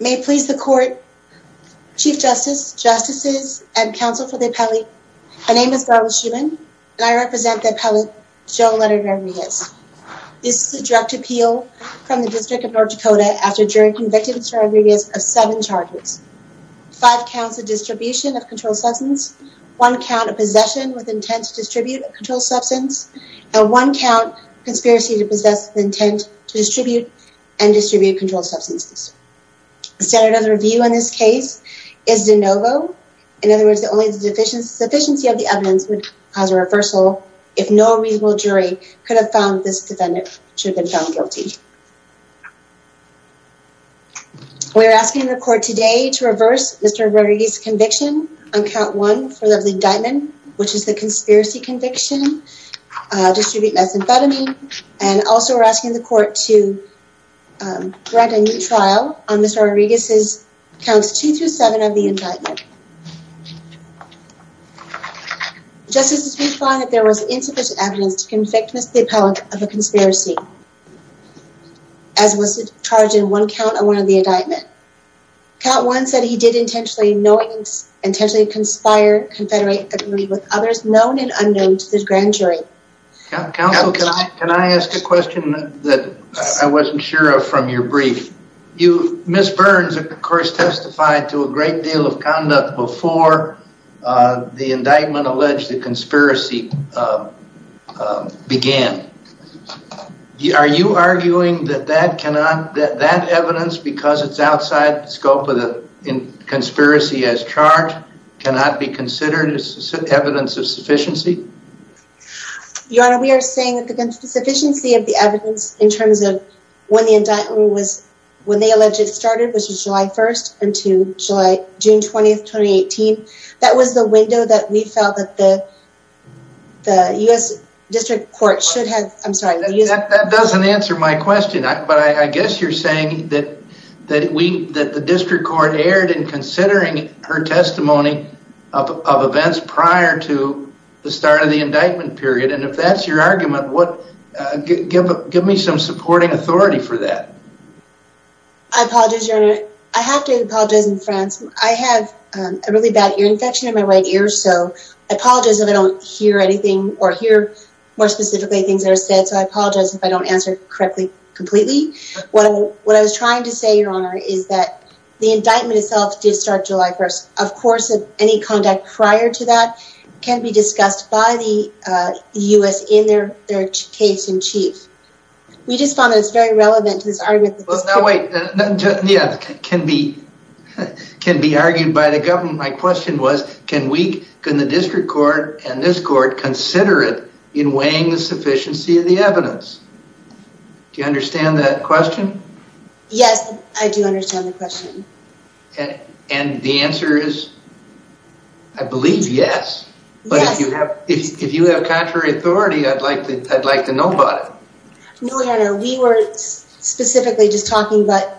May it please the court, Chief Justice, Justices, and counsel for the appellee, my name is Garlis Shuman and I represent the appellate Joe Leonard Rodriguez. This is a direct appeal from the District of North Dakota after jury convicted Mr. Rodriguez of seven charges, five counts of distribution of controlled substance, one count of possession with intent to distribute a controlled substance, and one count conspiracy to possess with intent to distribute and distribute controlled substances. The standard of review in this case is de novo. In other words, the only deficiency of the evidence would cause a reversal if no reasonable jury could have found this defendant should have been found guilty. We're asking the court today to reverse Mr. Rodriguez conviction on count one for the indictment, which is the conspiracy conviction, distribute methamphetamine, and also we're asking the court to grant a new trial on Mr. Rodriguez's counts two through seven of the indictment. Justices, we find that there was insufficient evidence to convict Mr. the appellate of a conspiracy, as was the charge in one count of one of the indictment. Count one said he did intentionally knowing intentionally conspire confederate agree with others known and unknown to the grand jury. Counsel, can I ask a question that I wasn't sure of from your brief? Ms. Burns, of course, testified to a great deal of conduct before the indictment alleged the conspiracy began. Are you arguing that that evidence, because it's outside the scope of the conspiracy as charged, cannot be considered as evidence of sufficiency? Your Honor, we are saying that the sufficiency of the evidence in terms of when the indictment was when they alleged it started, which was July 1st until July, June 20th, 2018. That was the window that we felt that the U.S. District Court should have. I'm sorry, that doesn't answer my question, but I guess you're saying that the District Court erred in considering her testimony of events prior to the start of the indictment period. And if that's your argument, give me some supporting authority for that. I apologize, Your Honor. I have to apologize in France. I have a really bad ear infection in my right ear. So I apologize if I don't hear anything or hear more specifically things that are said. So I apologize if I don't answer correctly completely. What I was trying to say, Your Honor, is that the indictment itself did start July 1st. Of course, any conduct prior to that can be discussed by the U.S. in their case-in-chief. We just found that it's very relevant to this argument. Well, now wait, yeah, can be argued by the government. My question was, can we, can the District Court and this Court, consider it in weighing the sufficiency of the evidence? Do you understand that question? Yes, I do understand the question. And the answer is, I believe, yes. Yes. But if you have, if you have contrary authority, I'd like to, I'd like to know about it. No, Your Honor. We were specifically just talking about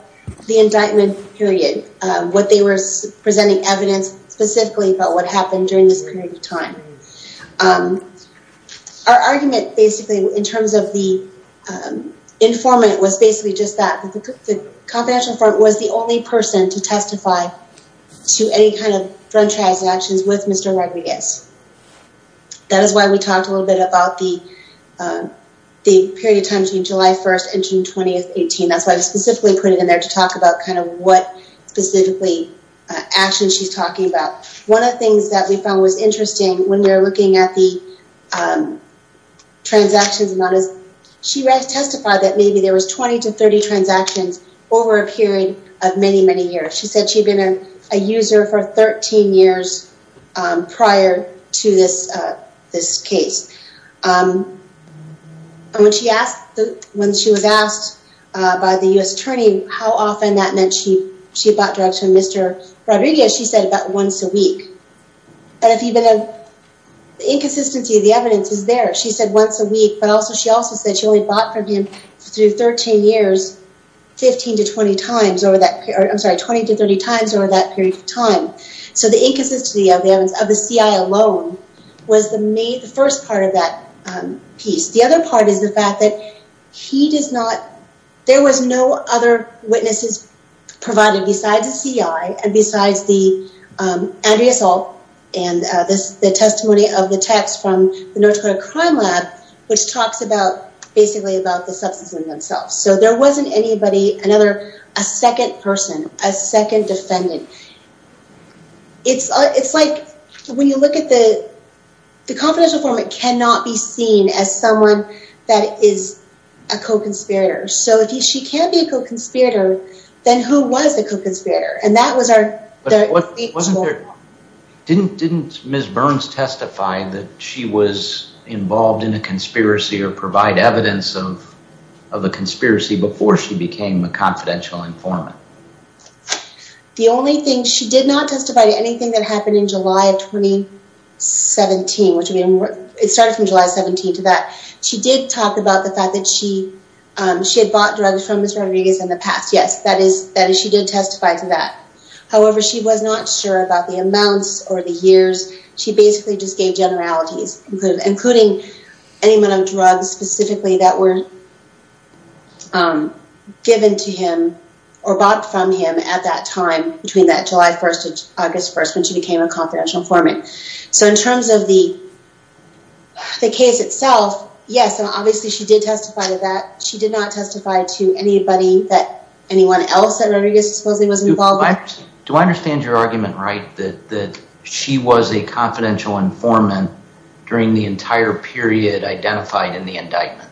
the indictment period, what they were presenting evidence specifically about what happened during this period of time. Our argument, basically, in terms of the informant was basically just that the confidential informant was the only person to testify to any kind of drug transactions with Mr. Rodriguez. That is why we talked a little bit about the period of time between July 1st and June 20th, 2018. That's why I specifically put it in there to talk about kind of what specifically actions she's talking about. One of the things that we found was interesting when you're looking at the transactions, not as, she testified that maybe there was 20 to 30 transactions over a period of many, many years. She said she'd been a user for 13 years prior to this case. And when she asked, when she was asked by the U.S. Attorney how often that meant she, she bought drugs from Mr. Rodriguez, she said about once a week. And if even the inconsistency of the evidence is there, she said once a week, but also she also said she only bought from him through 13 years, 15 to 20 times over that, I'm sorry, 20 to 30 times over that period of time. So the inconsistency of the evidence of the CI alone was the first part of that piece. The other part is the fact that he does not, there was no other witnesses provided besides the CI and besides the, Andrea Salt, and this, the testimony of the text from the North Dakota Crime Lab, which talks about basically about the substance in themselves. So there wasn't anybody, another, a second person, a second defendant. It's, it's like, when you look at the confidential form, it cannot be seen as someone that is a co-conspirator. So if she can be a co-conspirator, then who was the co-conspirator? And that was our... Didn't, didn't Ms. Burns testify that she was involved in a conspiracy or provide evidence of, of a conspiracy before she became a confidential informant? The only thing she did not testify to anything that happened in July of 2017, which it started from July 17th to that. She did talk about the fact that she, she had bought drugs from Mr. Rodriguez in the past. Yes, that is, that is, she did testify to that. However, she was not sure about the amounts or the years. She basically just gave generalities, including, including any amount of drugs specifically that were given to him or bought from him at that time between that July 1st to August 1st, when she became a confidential informant. So in terms of the, the case itself, yes. And obviously she did testify to that. She did not testify to anybody that anyone else that Rodriguez supposedly was involved with. Do I understand your argument, right? That, that she was a confidential informant during the entire period identified in the indictment?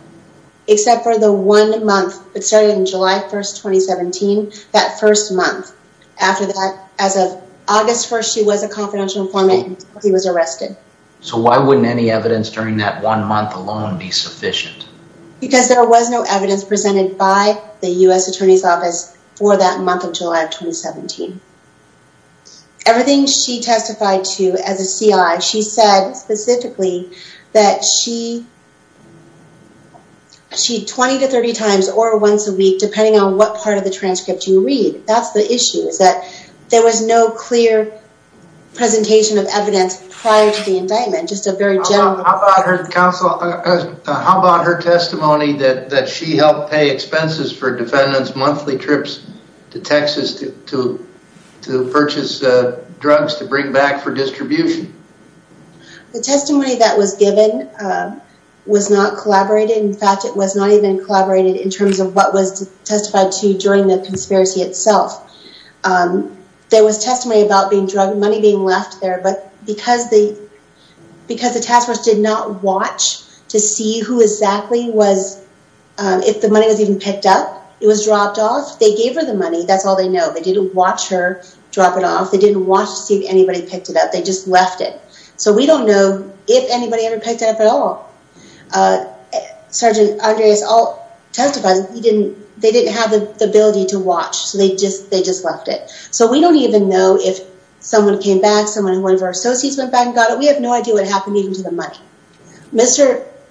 Except for the one month, it started in July 1st, 2017. That first month after that, as of August 1st, she was a confidential informant and he was arrested. So why wouldn't any evidence during that one month alone be sufficient? Because there was no evidence presented by the U.S. Attorney's Office for that month of July of 2017. Everything she testified to as a CI, she said specifically that she, she 20 to 30 times or once a week, depending on what part of the transcript you read. That's the issue is that there was no clear presentation of evidence prior to the indictment. Just a very general- How about her testimony that she helped pay expenses for defendants' monthly trips to Texas to purchase drugs to bring back for distribution? The testimony that was given was not collaborated. In fact, it was not even collaborated in terms of what was testified to during the conspiracy itself. There was testimony about being drugged, money being left there, but because the task force did not watch to see who exactly was, if the money was even picked up, it was dropped off. They gave her the money. That's all they know. They didn't watch her drop it off. They didn't watch to see if anybody picked it up. They just left it. So we don't know if anybody ever picked it up at all. Sergeant Andreas Alt testified that they didn't have the ability to watch. So they just left it. So we don't even know if someone came back, someone who one of our associates went back and got it. We have no idea what happened even to the money.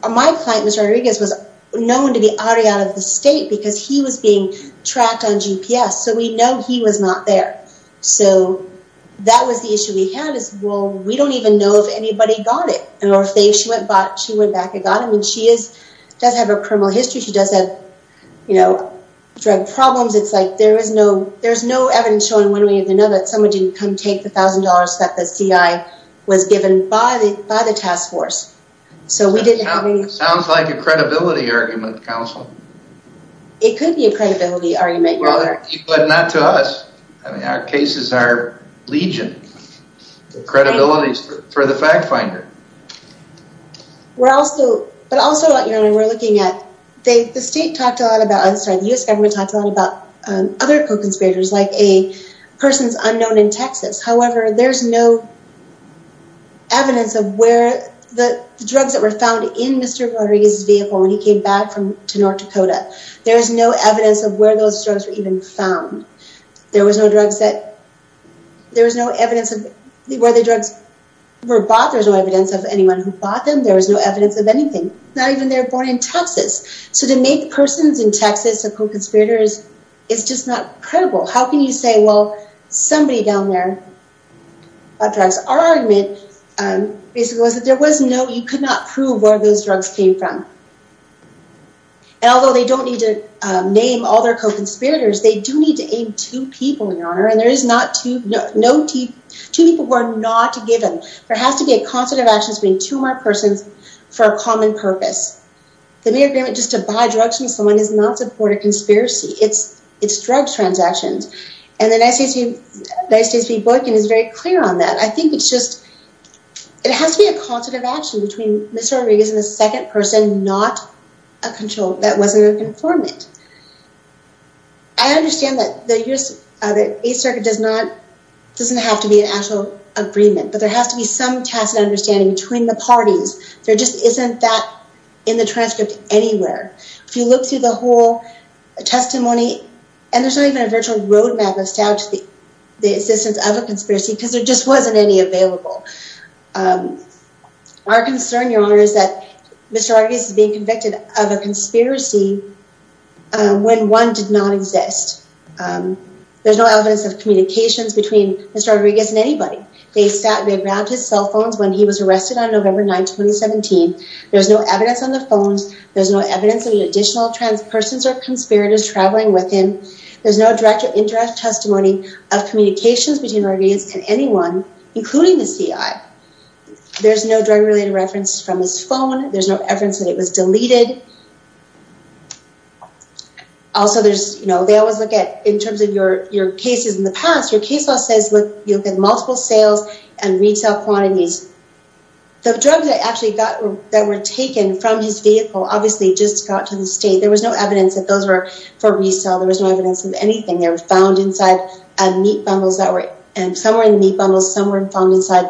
My client, Mr. Rodriguez, was known to be already out of the state because he was being tracked on GPS. So we know he was not there. So that was the issue we had is, well, we don't even know if anybody got it. Or if she went back and got it. I mean, she does have a criminal history. She does have, you know, drug problems. It's like there's no evidence showing one way or another that someone didn't come take the thousand dollars that the CI was given by the task force. So we didn't have any... Sounds like a credibility argument, counsel. It could be a credibility argument. Well, not to us. I mean, our cases are legion. The credibility is for the fact finder. We're also... But also what we're looking at, the state talked a lot about... I'm sorry, the US government talked a lot about other co-conspirators like a person's unknown in Texas. However, there's no evidence of where the drugs that were found in Mr. Rodriguez's vehicle when he came back from to North Dakota. There was no evidence of where those drugs were even found. There was no drugs that... There was no evidence of where the drugs were bought. There's no evidence of anyone who bought them. There was no evidence of anything. Not even they're born in Texas. So to make persons in Texas a co-conspirators, it's just not credible. How can you say, well, somebody down there bought drugs? Our argument basically was that there was no... You could not prove where those drugs came from. And although they don't need to name all their co-conspirators, they do need to aim two people, Your Honor. And there is not two... Two people were not given. There has to be a concert of actions between two marked persons for a common purpose. The mere agreement just to buy drugs from someone does not support a conspiracy. It's drug transactions. And the United States v. Boykin is very clear on that. I think it's just... It has to be a concert of action between Mr. Rodriguez and the second person, not a control that wasn't a conformant. I understand that the Eighth Circuit doesn't have to be an actual agreement, but there has to be some tacit understanding between the parties. There just isn't that in the transcript anywhere. If you look through the whole testimony... And there's not even a virtual roadmap of establishing the existence of a conspiracy because there just wasn't any available. Our concern, Your Honor, is that Mr. Rodriguez is being convicted of a conspiracy when one did not exist. There's no evidence of communications between Mr. Rodriguez and anybody. They grabbed his cell phones when he was arrested on November 9, 2017. There's no evidence on the phones. There's no evidence of any additional trans persons or conspirators traveling with him. There's no direct or indirect testimony of communications between Rodriguez and anyone, including the CI. There's no drug-related reference from his phone. There's no evidence that it was deleted. Also, they always look at... In terms of your cases in the past, your case law says you'll get multiple sales and retail quantities. The drugs that were taken from his vehicle obviously just got to the state. There was no evidence that those were for resale. There was no evidence of anything. They were found inside meat bundles. Some were in the meat bundles. Some were found inside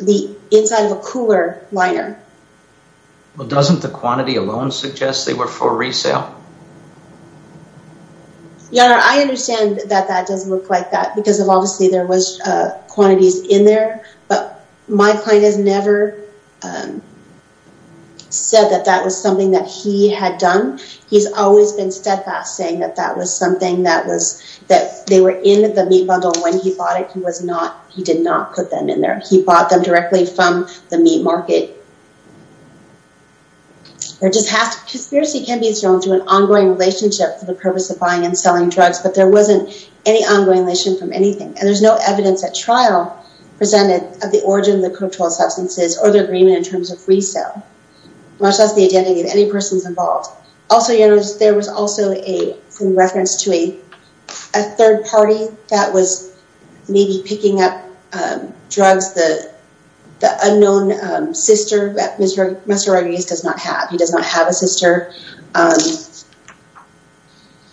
of a cooler liner. Well, doesn't the quantity alone suggest they were for resale? Your Honor, I understand that that doesn't look like that because obviously there was quantities in there, but my client has never said that that was something that he had done. He's always been steadfast saying that that was something that was... That they were in the meat bundle when he bought it. He did not put them in there. He bought them directly from the meat market. Conspiracy can be as strong as you want it to be. There was an ongoing relationship for the purpose of buying and selling drugs, but there wasn't any ongoing relation from anything. And there's no evidence at trial presented of the origin of the controlled substances or the agreement in terms of resale, much less the identity of any persons involved. Also, Your Honor, there was also a reference to a third party that was maybe picking up drugs. The unknown sister that Mr. Rodriguez does not have. He does not have a sister.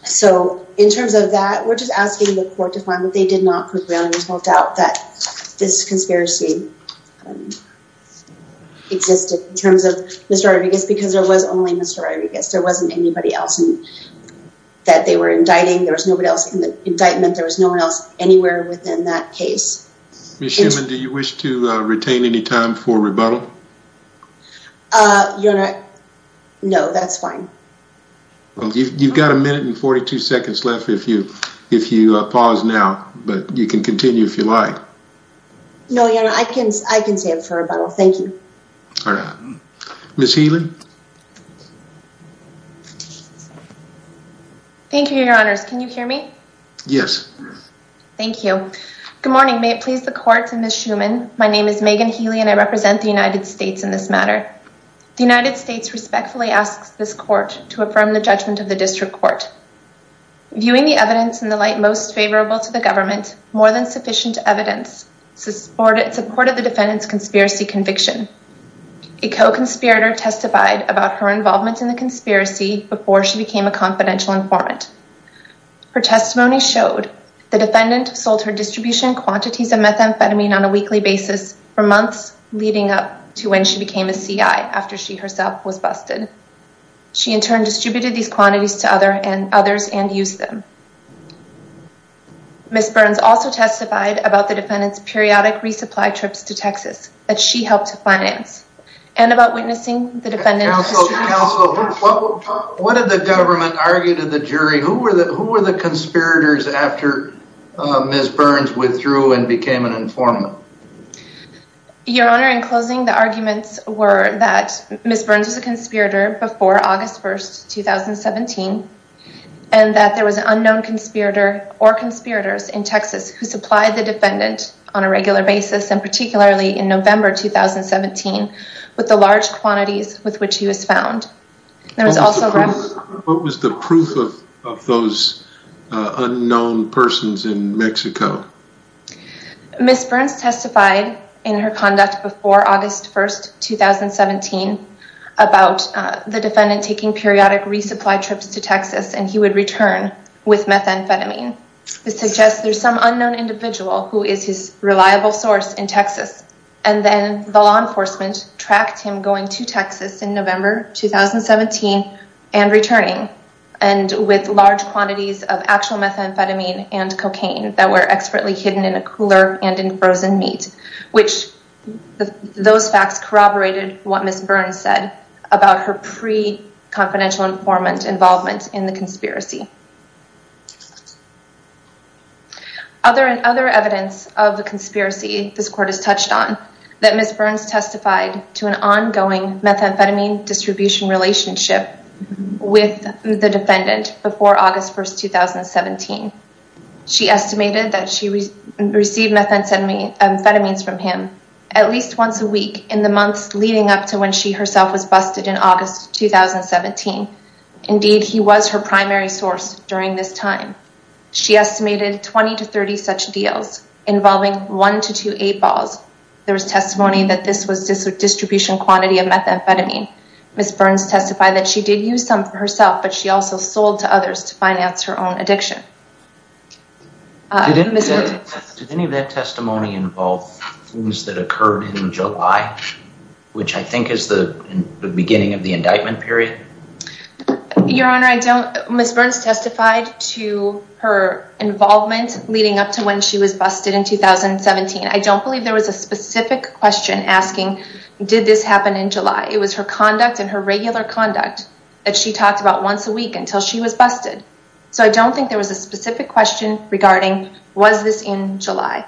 So in terms of that, we're just asking the court to find what they did not put down. There's no doubt that this conspiracy existed in terms of Mr. Rodriguez because there was only Mr. Rodriguez. There wasn't anybody else that they were indicting. There was nobody else in the indictment. There was no one else anywhere within that case. Ms. Shuman, do you wish to retain any time for rebuttal? Uh, Your Honor, no, that's fine. Well, you've got a minute and 42 seconds left if you pause now, but you can continue if you like. No, Your Honor, I can stay for rebuttal. Thank you. All right. Ms. Healy. Thank you, Your Honors. Can you hear me? Yes. Thank you. Good morning. May it please the court and Ms. Shuman. My name is Megan Healy and I represent the United States in this matter. The United States respectfully asks this court to affirm the judgment of the district court. Viewing the evidence in the light most favorable to the government, more than sufficient evidence supported the defendant's conspiracy conviction. A co-conspirator testified about her involvement in the conspiracy before she became a confidential informant. Her testimony showed the defendant sold her distribution quantities of methamphetamine on a weekly basis for months leading up to when she became a C.I. after she herself was busted. She in turn distributed these quantities to others and used them. Ms. Burns also testified about the defendant's periodic resupply trips to Texas that she helped to finance and about witnessing the defendant. Counsel, counsel, what did the government argue to the jury? Who were the conspirators after Ms. Burns withdrew and became an informant? Your Honor, in closing, the arguments were that Ms. Burns was a conspirator before August 1st, 2017 and that there was an unknown conspirator or conspirators in Texas who supplied the defendant on a regular basis and particularly in November 2017 with the large quantities with which he was found. There was also... What was the proof of those unknown persons in Mexico? Ms. Burns testified in her conduct before August 1st, 2017 about the defendant taking periodic resupply trips to Texas and he would return with methamphetamine. This suggests there's some unknown individual who is his reliable source in Texas and then the law enforcement tracked him going to Texas in November 2017 and returning and with large quantities of actual methamphetamine and cocaine that were expertly hidden in a cooler and in frozen meat which those facts corroborated what Ms. Burns said about her pre-confidential informant involvement in the conspiracy. Other evidence of the conspiracy this court has touched on that Ms. Burns testified to an ongoing methamphetamine distribution relationship with the defendant before August 1st, 2017. She estimated that she received methamphetamines from him at least once a week in the months leading up to when she herself was busted in August 2017. Indeed, he was her primary source of methamphetamine. During this time, she estimated 20 to 30 such deals involving one to two eight balls. There was testimony that this was distribution quantity of methamphetamine. Ms. Burns testified that she did use some for herself but she also sold to others to finance her own addiction. Did any of that testimony involve things that occurred in July which I think is the beginning of the indictment period? Your Honor, I don't, Ms. Burns testified to her involvement leading up to when she was busted in 2017. I don't believe there was a specific question asking, did this happen in July? It was her conduct and her regular conduct that she talked about once a week until she was busted. So I don't think there was a specific question regarding, was this in July?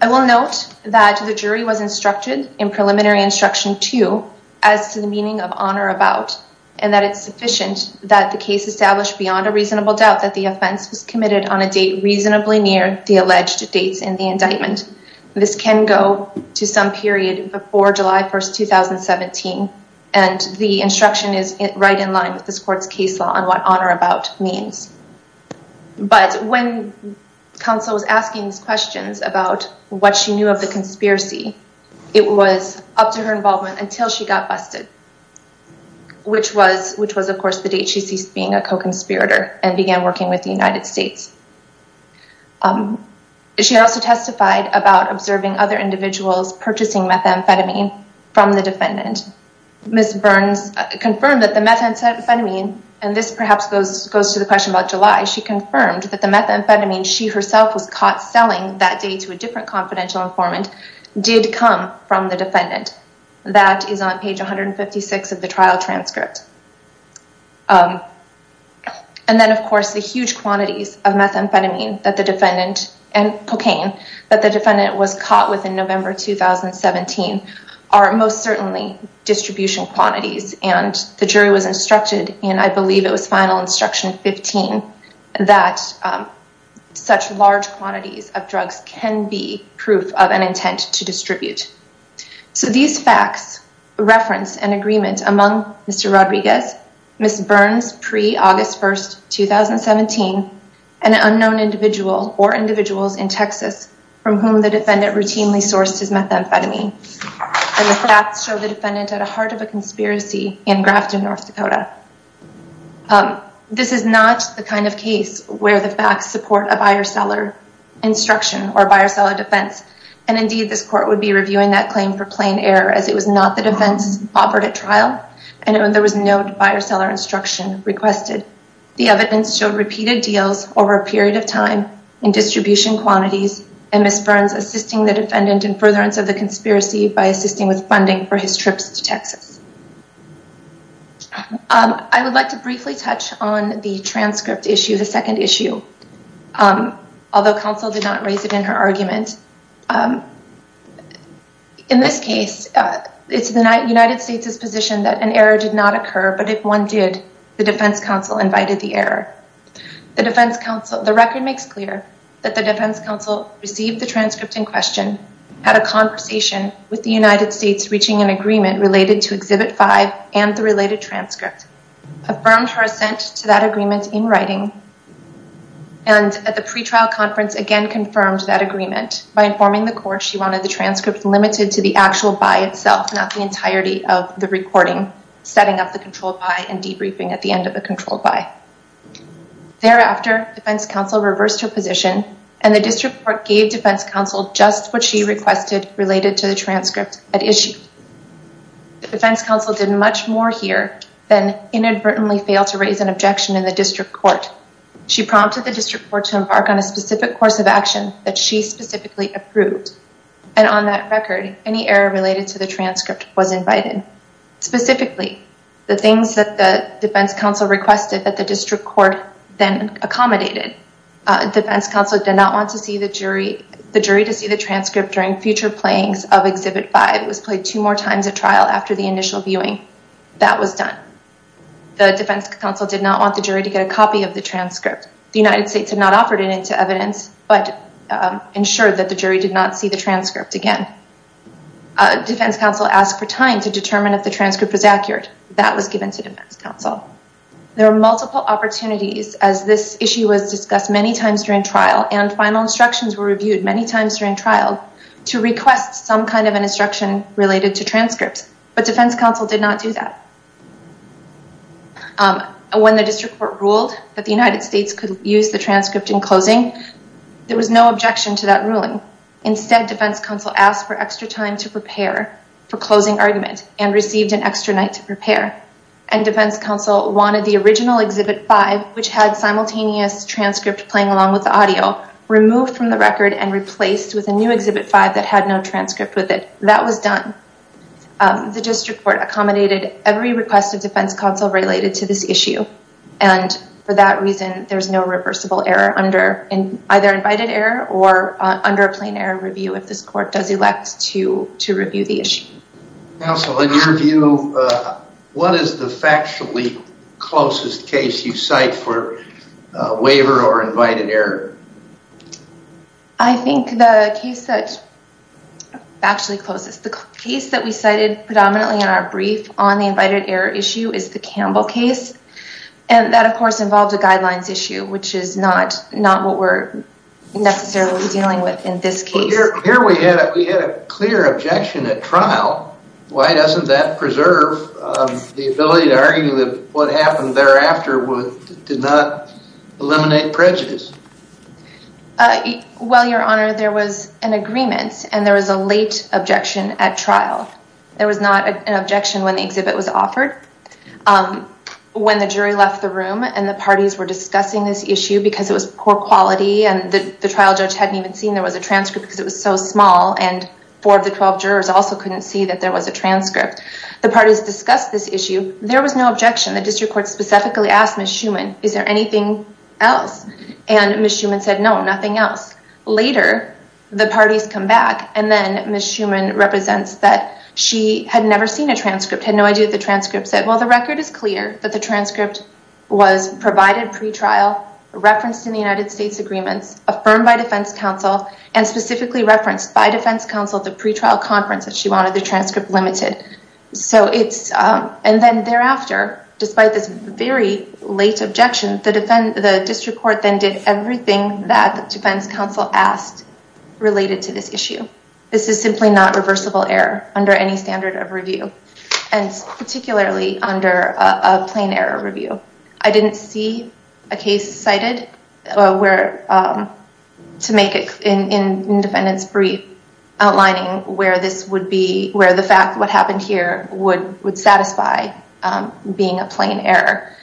I will note that the jury was instructed in preliminary instruction two as to the meaning of honor about and that it's sufficient that the case established beyond a reasonable doubt that the offense was committed on a date reasonably near the alleged dates in the indictment. This can go to some period before July 1st, 2017 and the instruction is right in line with this court's case law on what honor about means. But when counsel was asking these questions about what she knew of the conspiracy, it was up to her involvement until she got busted which was of course the date she ceased being a co-conspirator and began working with the United States. She also testified about observing other individuals purchasing methamphetamine from the defendant. Ms. Burns confirmed that the methamphetamine and this perhaps goes to the question about July, she confirmed that the methamphetamine she herself was caught selling that day to a different confidential informant did come from the defendant. That is on page 156 of the trial transcript. And then of course the huge quantities of methamphetamine that the defendant and cocaine that the defendant was caught with in November, 2017 are most certainly distribution quantities and the jury was instructed and I believe it was final instruction 15 that such large quantities of drugs can be proof of an intent to distribute. So these facts reference an agreement among Mr. Rodriguez, Ms. Burns pre-August 1st, 2017, an unknown individual or individuals in Texas from whom the defendant routinely sourced his methamphetamine and the facts show the defendant at the heart of a conspiracy in Grafton, North Dakota. This is not the kind of case where the facts support a buyer-seller instruction or buyer-seller defense and indeed this court would be reviewing that claim for plain error as it was not the defense offered at trial and there was no buyer-seller instruction requested. The evidence showed repeated deals over a period of time in distribution quantities and Ms. Burns assisting the defendant in furtherance of the conspiracy by assisting with funding for his trips to Texas. I would like to briefly touch on the transcript issue, the second issue, although counsel did not raise it in her argument. In this case, it's the United States' position that an error did not occur, but if one did, the defense counsel invited the error. The defense counsel, the record makes clear that the defense counsel received the transcript in question, had a conversation with the United States reaching an agreement related to Exhibit 5 and the related transcript, affirmed her assent to that agreement in writing and at the pretrial conference again confirmed that agreement by informing the court she wanted the transcript limited to the actual buy itself, not the entirety of the recording, setting up the controlled buy and debriefing at the end of the controlled buy. Thereafter, defense counsel reversed her position and the district court gave defense counsel just what she requested related to the transcript at issue. The defense counsel did much more here than inadvertently fail to raise an objection in the district court. She prompted the district court to embark on a specific course of action that she specifically approved. And on that record, any error related to the transcript was invited. Specifically, the things that the defense counsel requested that the district court then accommodated. Defense counsel did not want to see the jury, the jury to see the transcript during future playings of Exhibit 5 was played two more times at trial after the initial viewing that was done. The defense counsel did not want the jury to get a copy of the transcript. The United States had not offered it into evidence, but ensured that the jury did not see the transcript again. Defense counsel asked for time to determine if the transcript was accurate. That was given to defense counsel. There are multiple opportunities as this issue was discussed many times during trial and final instructions were reviewed many times during trial to request some kind of an instruction related to transcripts, but defense counsel did not do that. When the district court ruled that the United States could use the transcript in closing, there was no objection to that ruling. Instead, defense counsel asked for extra time to prepare for closing argument and received an extra night to prepare. And defense counsel wanted the original Exhibit 5, which had simultaneous transcript playing along with the audio, removed from the record and replaced with a new Exhibit 5 that had no transcript with it. That was done. The district court accommodated every request of defense counsel related to this issue. And for that reason, there's no reversible error under either invited error or under a plain error review if this court does elect to review the issue. Counsel, in your view, what is the factually closest case you cite for a waiver or invited error? I think the case that's factually closest, the case that we cited predominantly in our brief on the invited error issue is the Campbell case. And that, of course, involved a guidelines issue, which is not what we're necessarily dealing with in this case. Here we had a clear objection at trial. Why doesn't that preserve the ability to argue that what happened thereafter did not eliminate prejudice? Well, Your Honor, there was an agreement and there was a late objection at trial. There was not an objection when the exhibit was offered. When the jury left the room and the parties were discussing this issue because it was poor quality and the trial judge hadn't even seen there was a transcript because it was so small and four of the 12 jurors also couldn't see that there was a transcript. The parties discussed this issue. There was no objection. The district court specifically asked Ms. Schuman, is there anything else? And Ms. Schuman said, no, nothing else. Later, the parties come back and then Ms. Schuman represents that she had never seen a transcript, had no idea the transcript said. Well, the record is clear that the transcript was provided pre-trial, referenced in the United States agreements, affirmed by defense counsel and specifically referenced by defense counsel at the pre-trial conference that she wanted the transcript limited. And then thereafter, despite this very late objection, the district court then did everything that the defense counsel asked related to this issue. This is simply not reversible error under any standard of review and particularly under a plain error review. I didn't see a case cited where to make it in defendant's brief outlining where this would be, where the fact what happened here would satisfy being a plain error.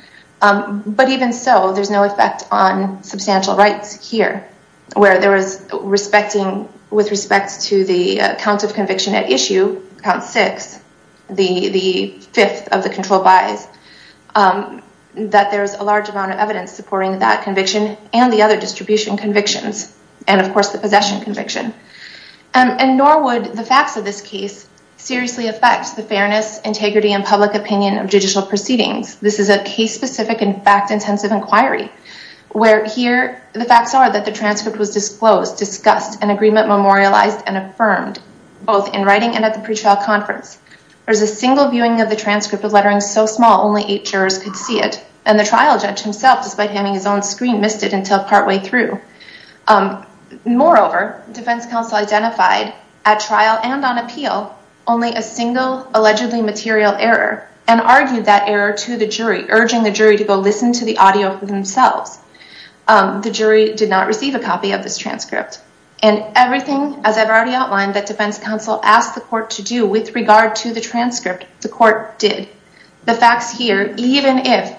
But even so there's no effect on substantial rights here where there was respecting with respect to the count of conviction at issue, count six, the fifth of the control buys, that there's a large amount of evidence supporting that conviction and the other distribution convictions and of course the possession conviction. And nor would the facts of this case seriously affect the fairness, integrity and public opinion of judicial proceedings. This is a case specific and fact intensive inquiry where here the facts are that the transcript was disclosed, discussed and agreement memorialized and affirmed both in writing and at the pre-trial conference. There's a single viewing of the transcript of lettering so small, only eight jurors could see it. And the trial judge himself, despite having his own screen missed it until partway through. Moreover, defense counsel identified at trial and on appeal only a single allegedly material error and argued that error to the jury, urging the jury to go listen to the audio for themselves. The jury did not receive a copy of this transcript and everything as I've already outlined that defense counsel asked the court to do with regard to the transcript, the court did. The facts here, even if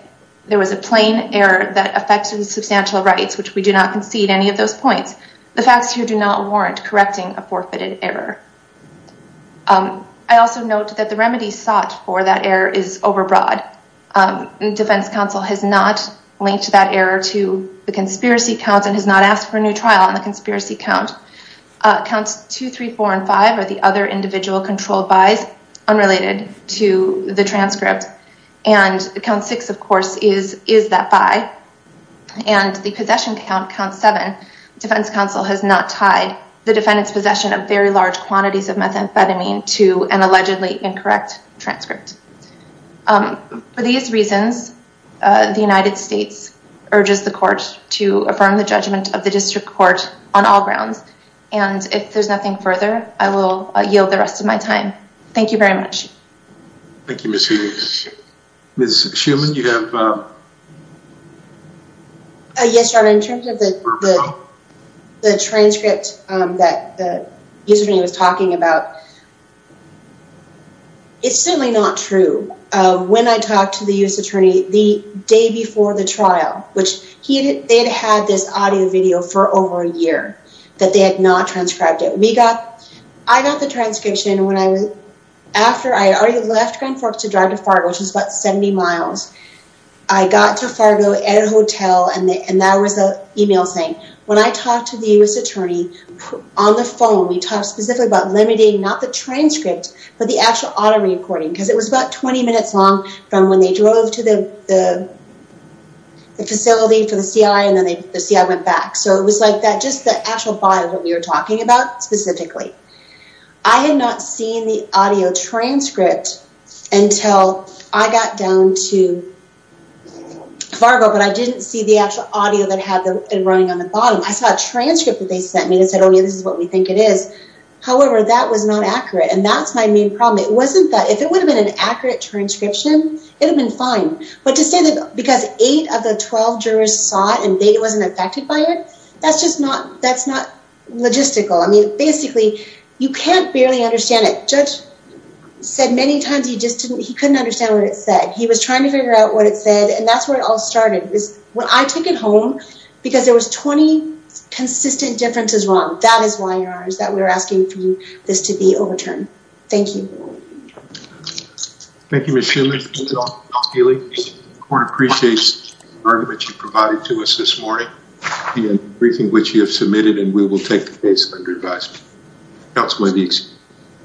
there was a plain error that affected the substantial rights, which we do not concede any of those points, the facts here do not warrant correcting a forfeited error. I also note that the remedies sought for that error is overbroad. Defense counsel has not linked that error to the conspiracy counts and has not asked for a new trial on the conspiracy count. Counts two, three, four, and five are the other individual controlled buys unrelated to the transcript. And count six, of course, is that buy. And the possession count, count seven, defense counsel has not tied the defendant's possession of very large quantities of methamphetamine to an allegedly incorrect transcript. For these reasons, the United States urges the court to affirm the judgment of the district court on all grounds. And if there's nothing further, I will yield the rest of my time. Thank you very much. Thank you, Ms. Heumann. Ms. Heumann, you have... Yes, your honor. In terms of the transcript that Mr. Heumann was talking about, it's certainly not true. When I talked to the U.S. attorney the day before the trial, which they had had this audio video for over a year that they had not transcribed it. I got the transcription when I was... After I already left Grand Forks to drive to Fargo, which is about 70 miles. I got to Fargo at a hotel and there was an email saying, when I talked to the U.S. attorney on the phone, we talked specifically about limiting not the transcript, but the actual audio recording. Because it was about 20 minutes long from when they drove to the facility for the CI and then the CI went back. So it was like that, just the actual file that we were talking about specifically. I had not seen the audio transcript until I got down to Fargo, but I didn't see the actual audio that had been running on the bottom. I saw a transcript that they sent me that said, oh yeah, this is what we think it is. However, that was not accurate. And that's my main problem. It wasn't that... If it would have been an accurate transcription, it would have been fine. But to say that because eight of the 12 jurors saw it and they wasn't affected by it, that's just not logistical. I mean, basically you can't barely understand it. Judge said many times, he just couldn't understand what it said. He was trying to figure out what it said and that's where it all started. It was when I took it home because there was 20 consistent differences wrong. That is why we're asking for this to be overturned. Thank you. Thank you, Ms. Schumann. That's all. Counsel Healy, the court appreciates the argument you provided to us this morning and everything which you have submitted and we will take the case under advisement. That's my needs.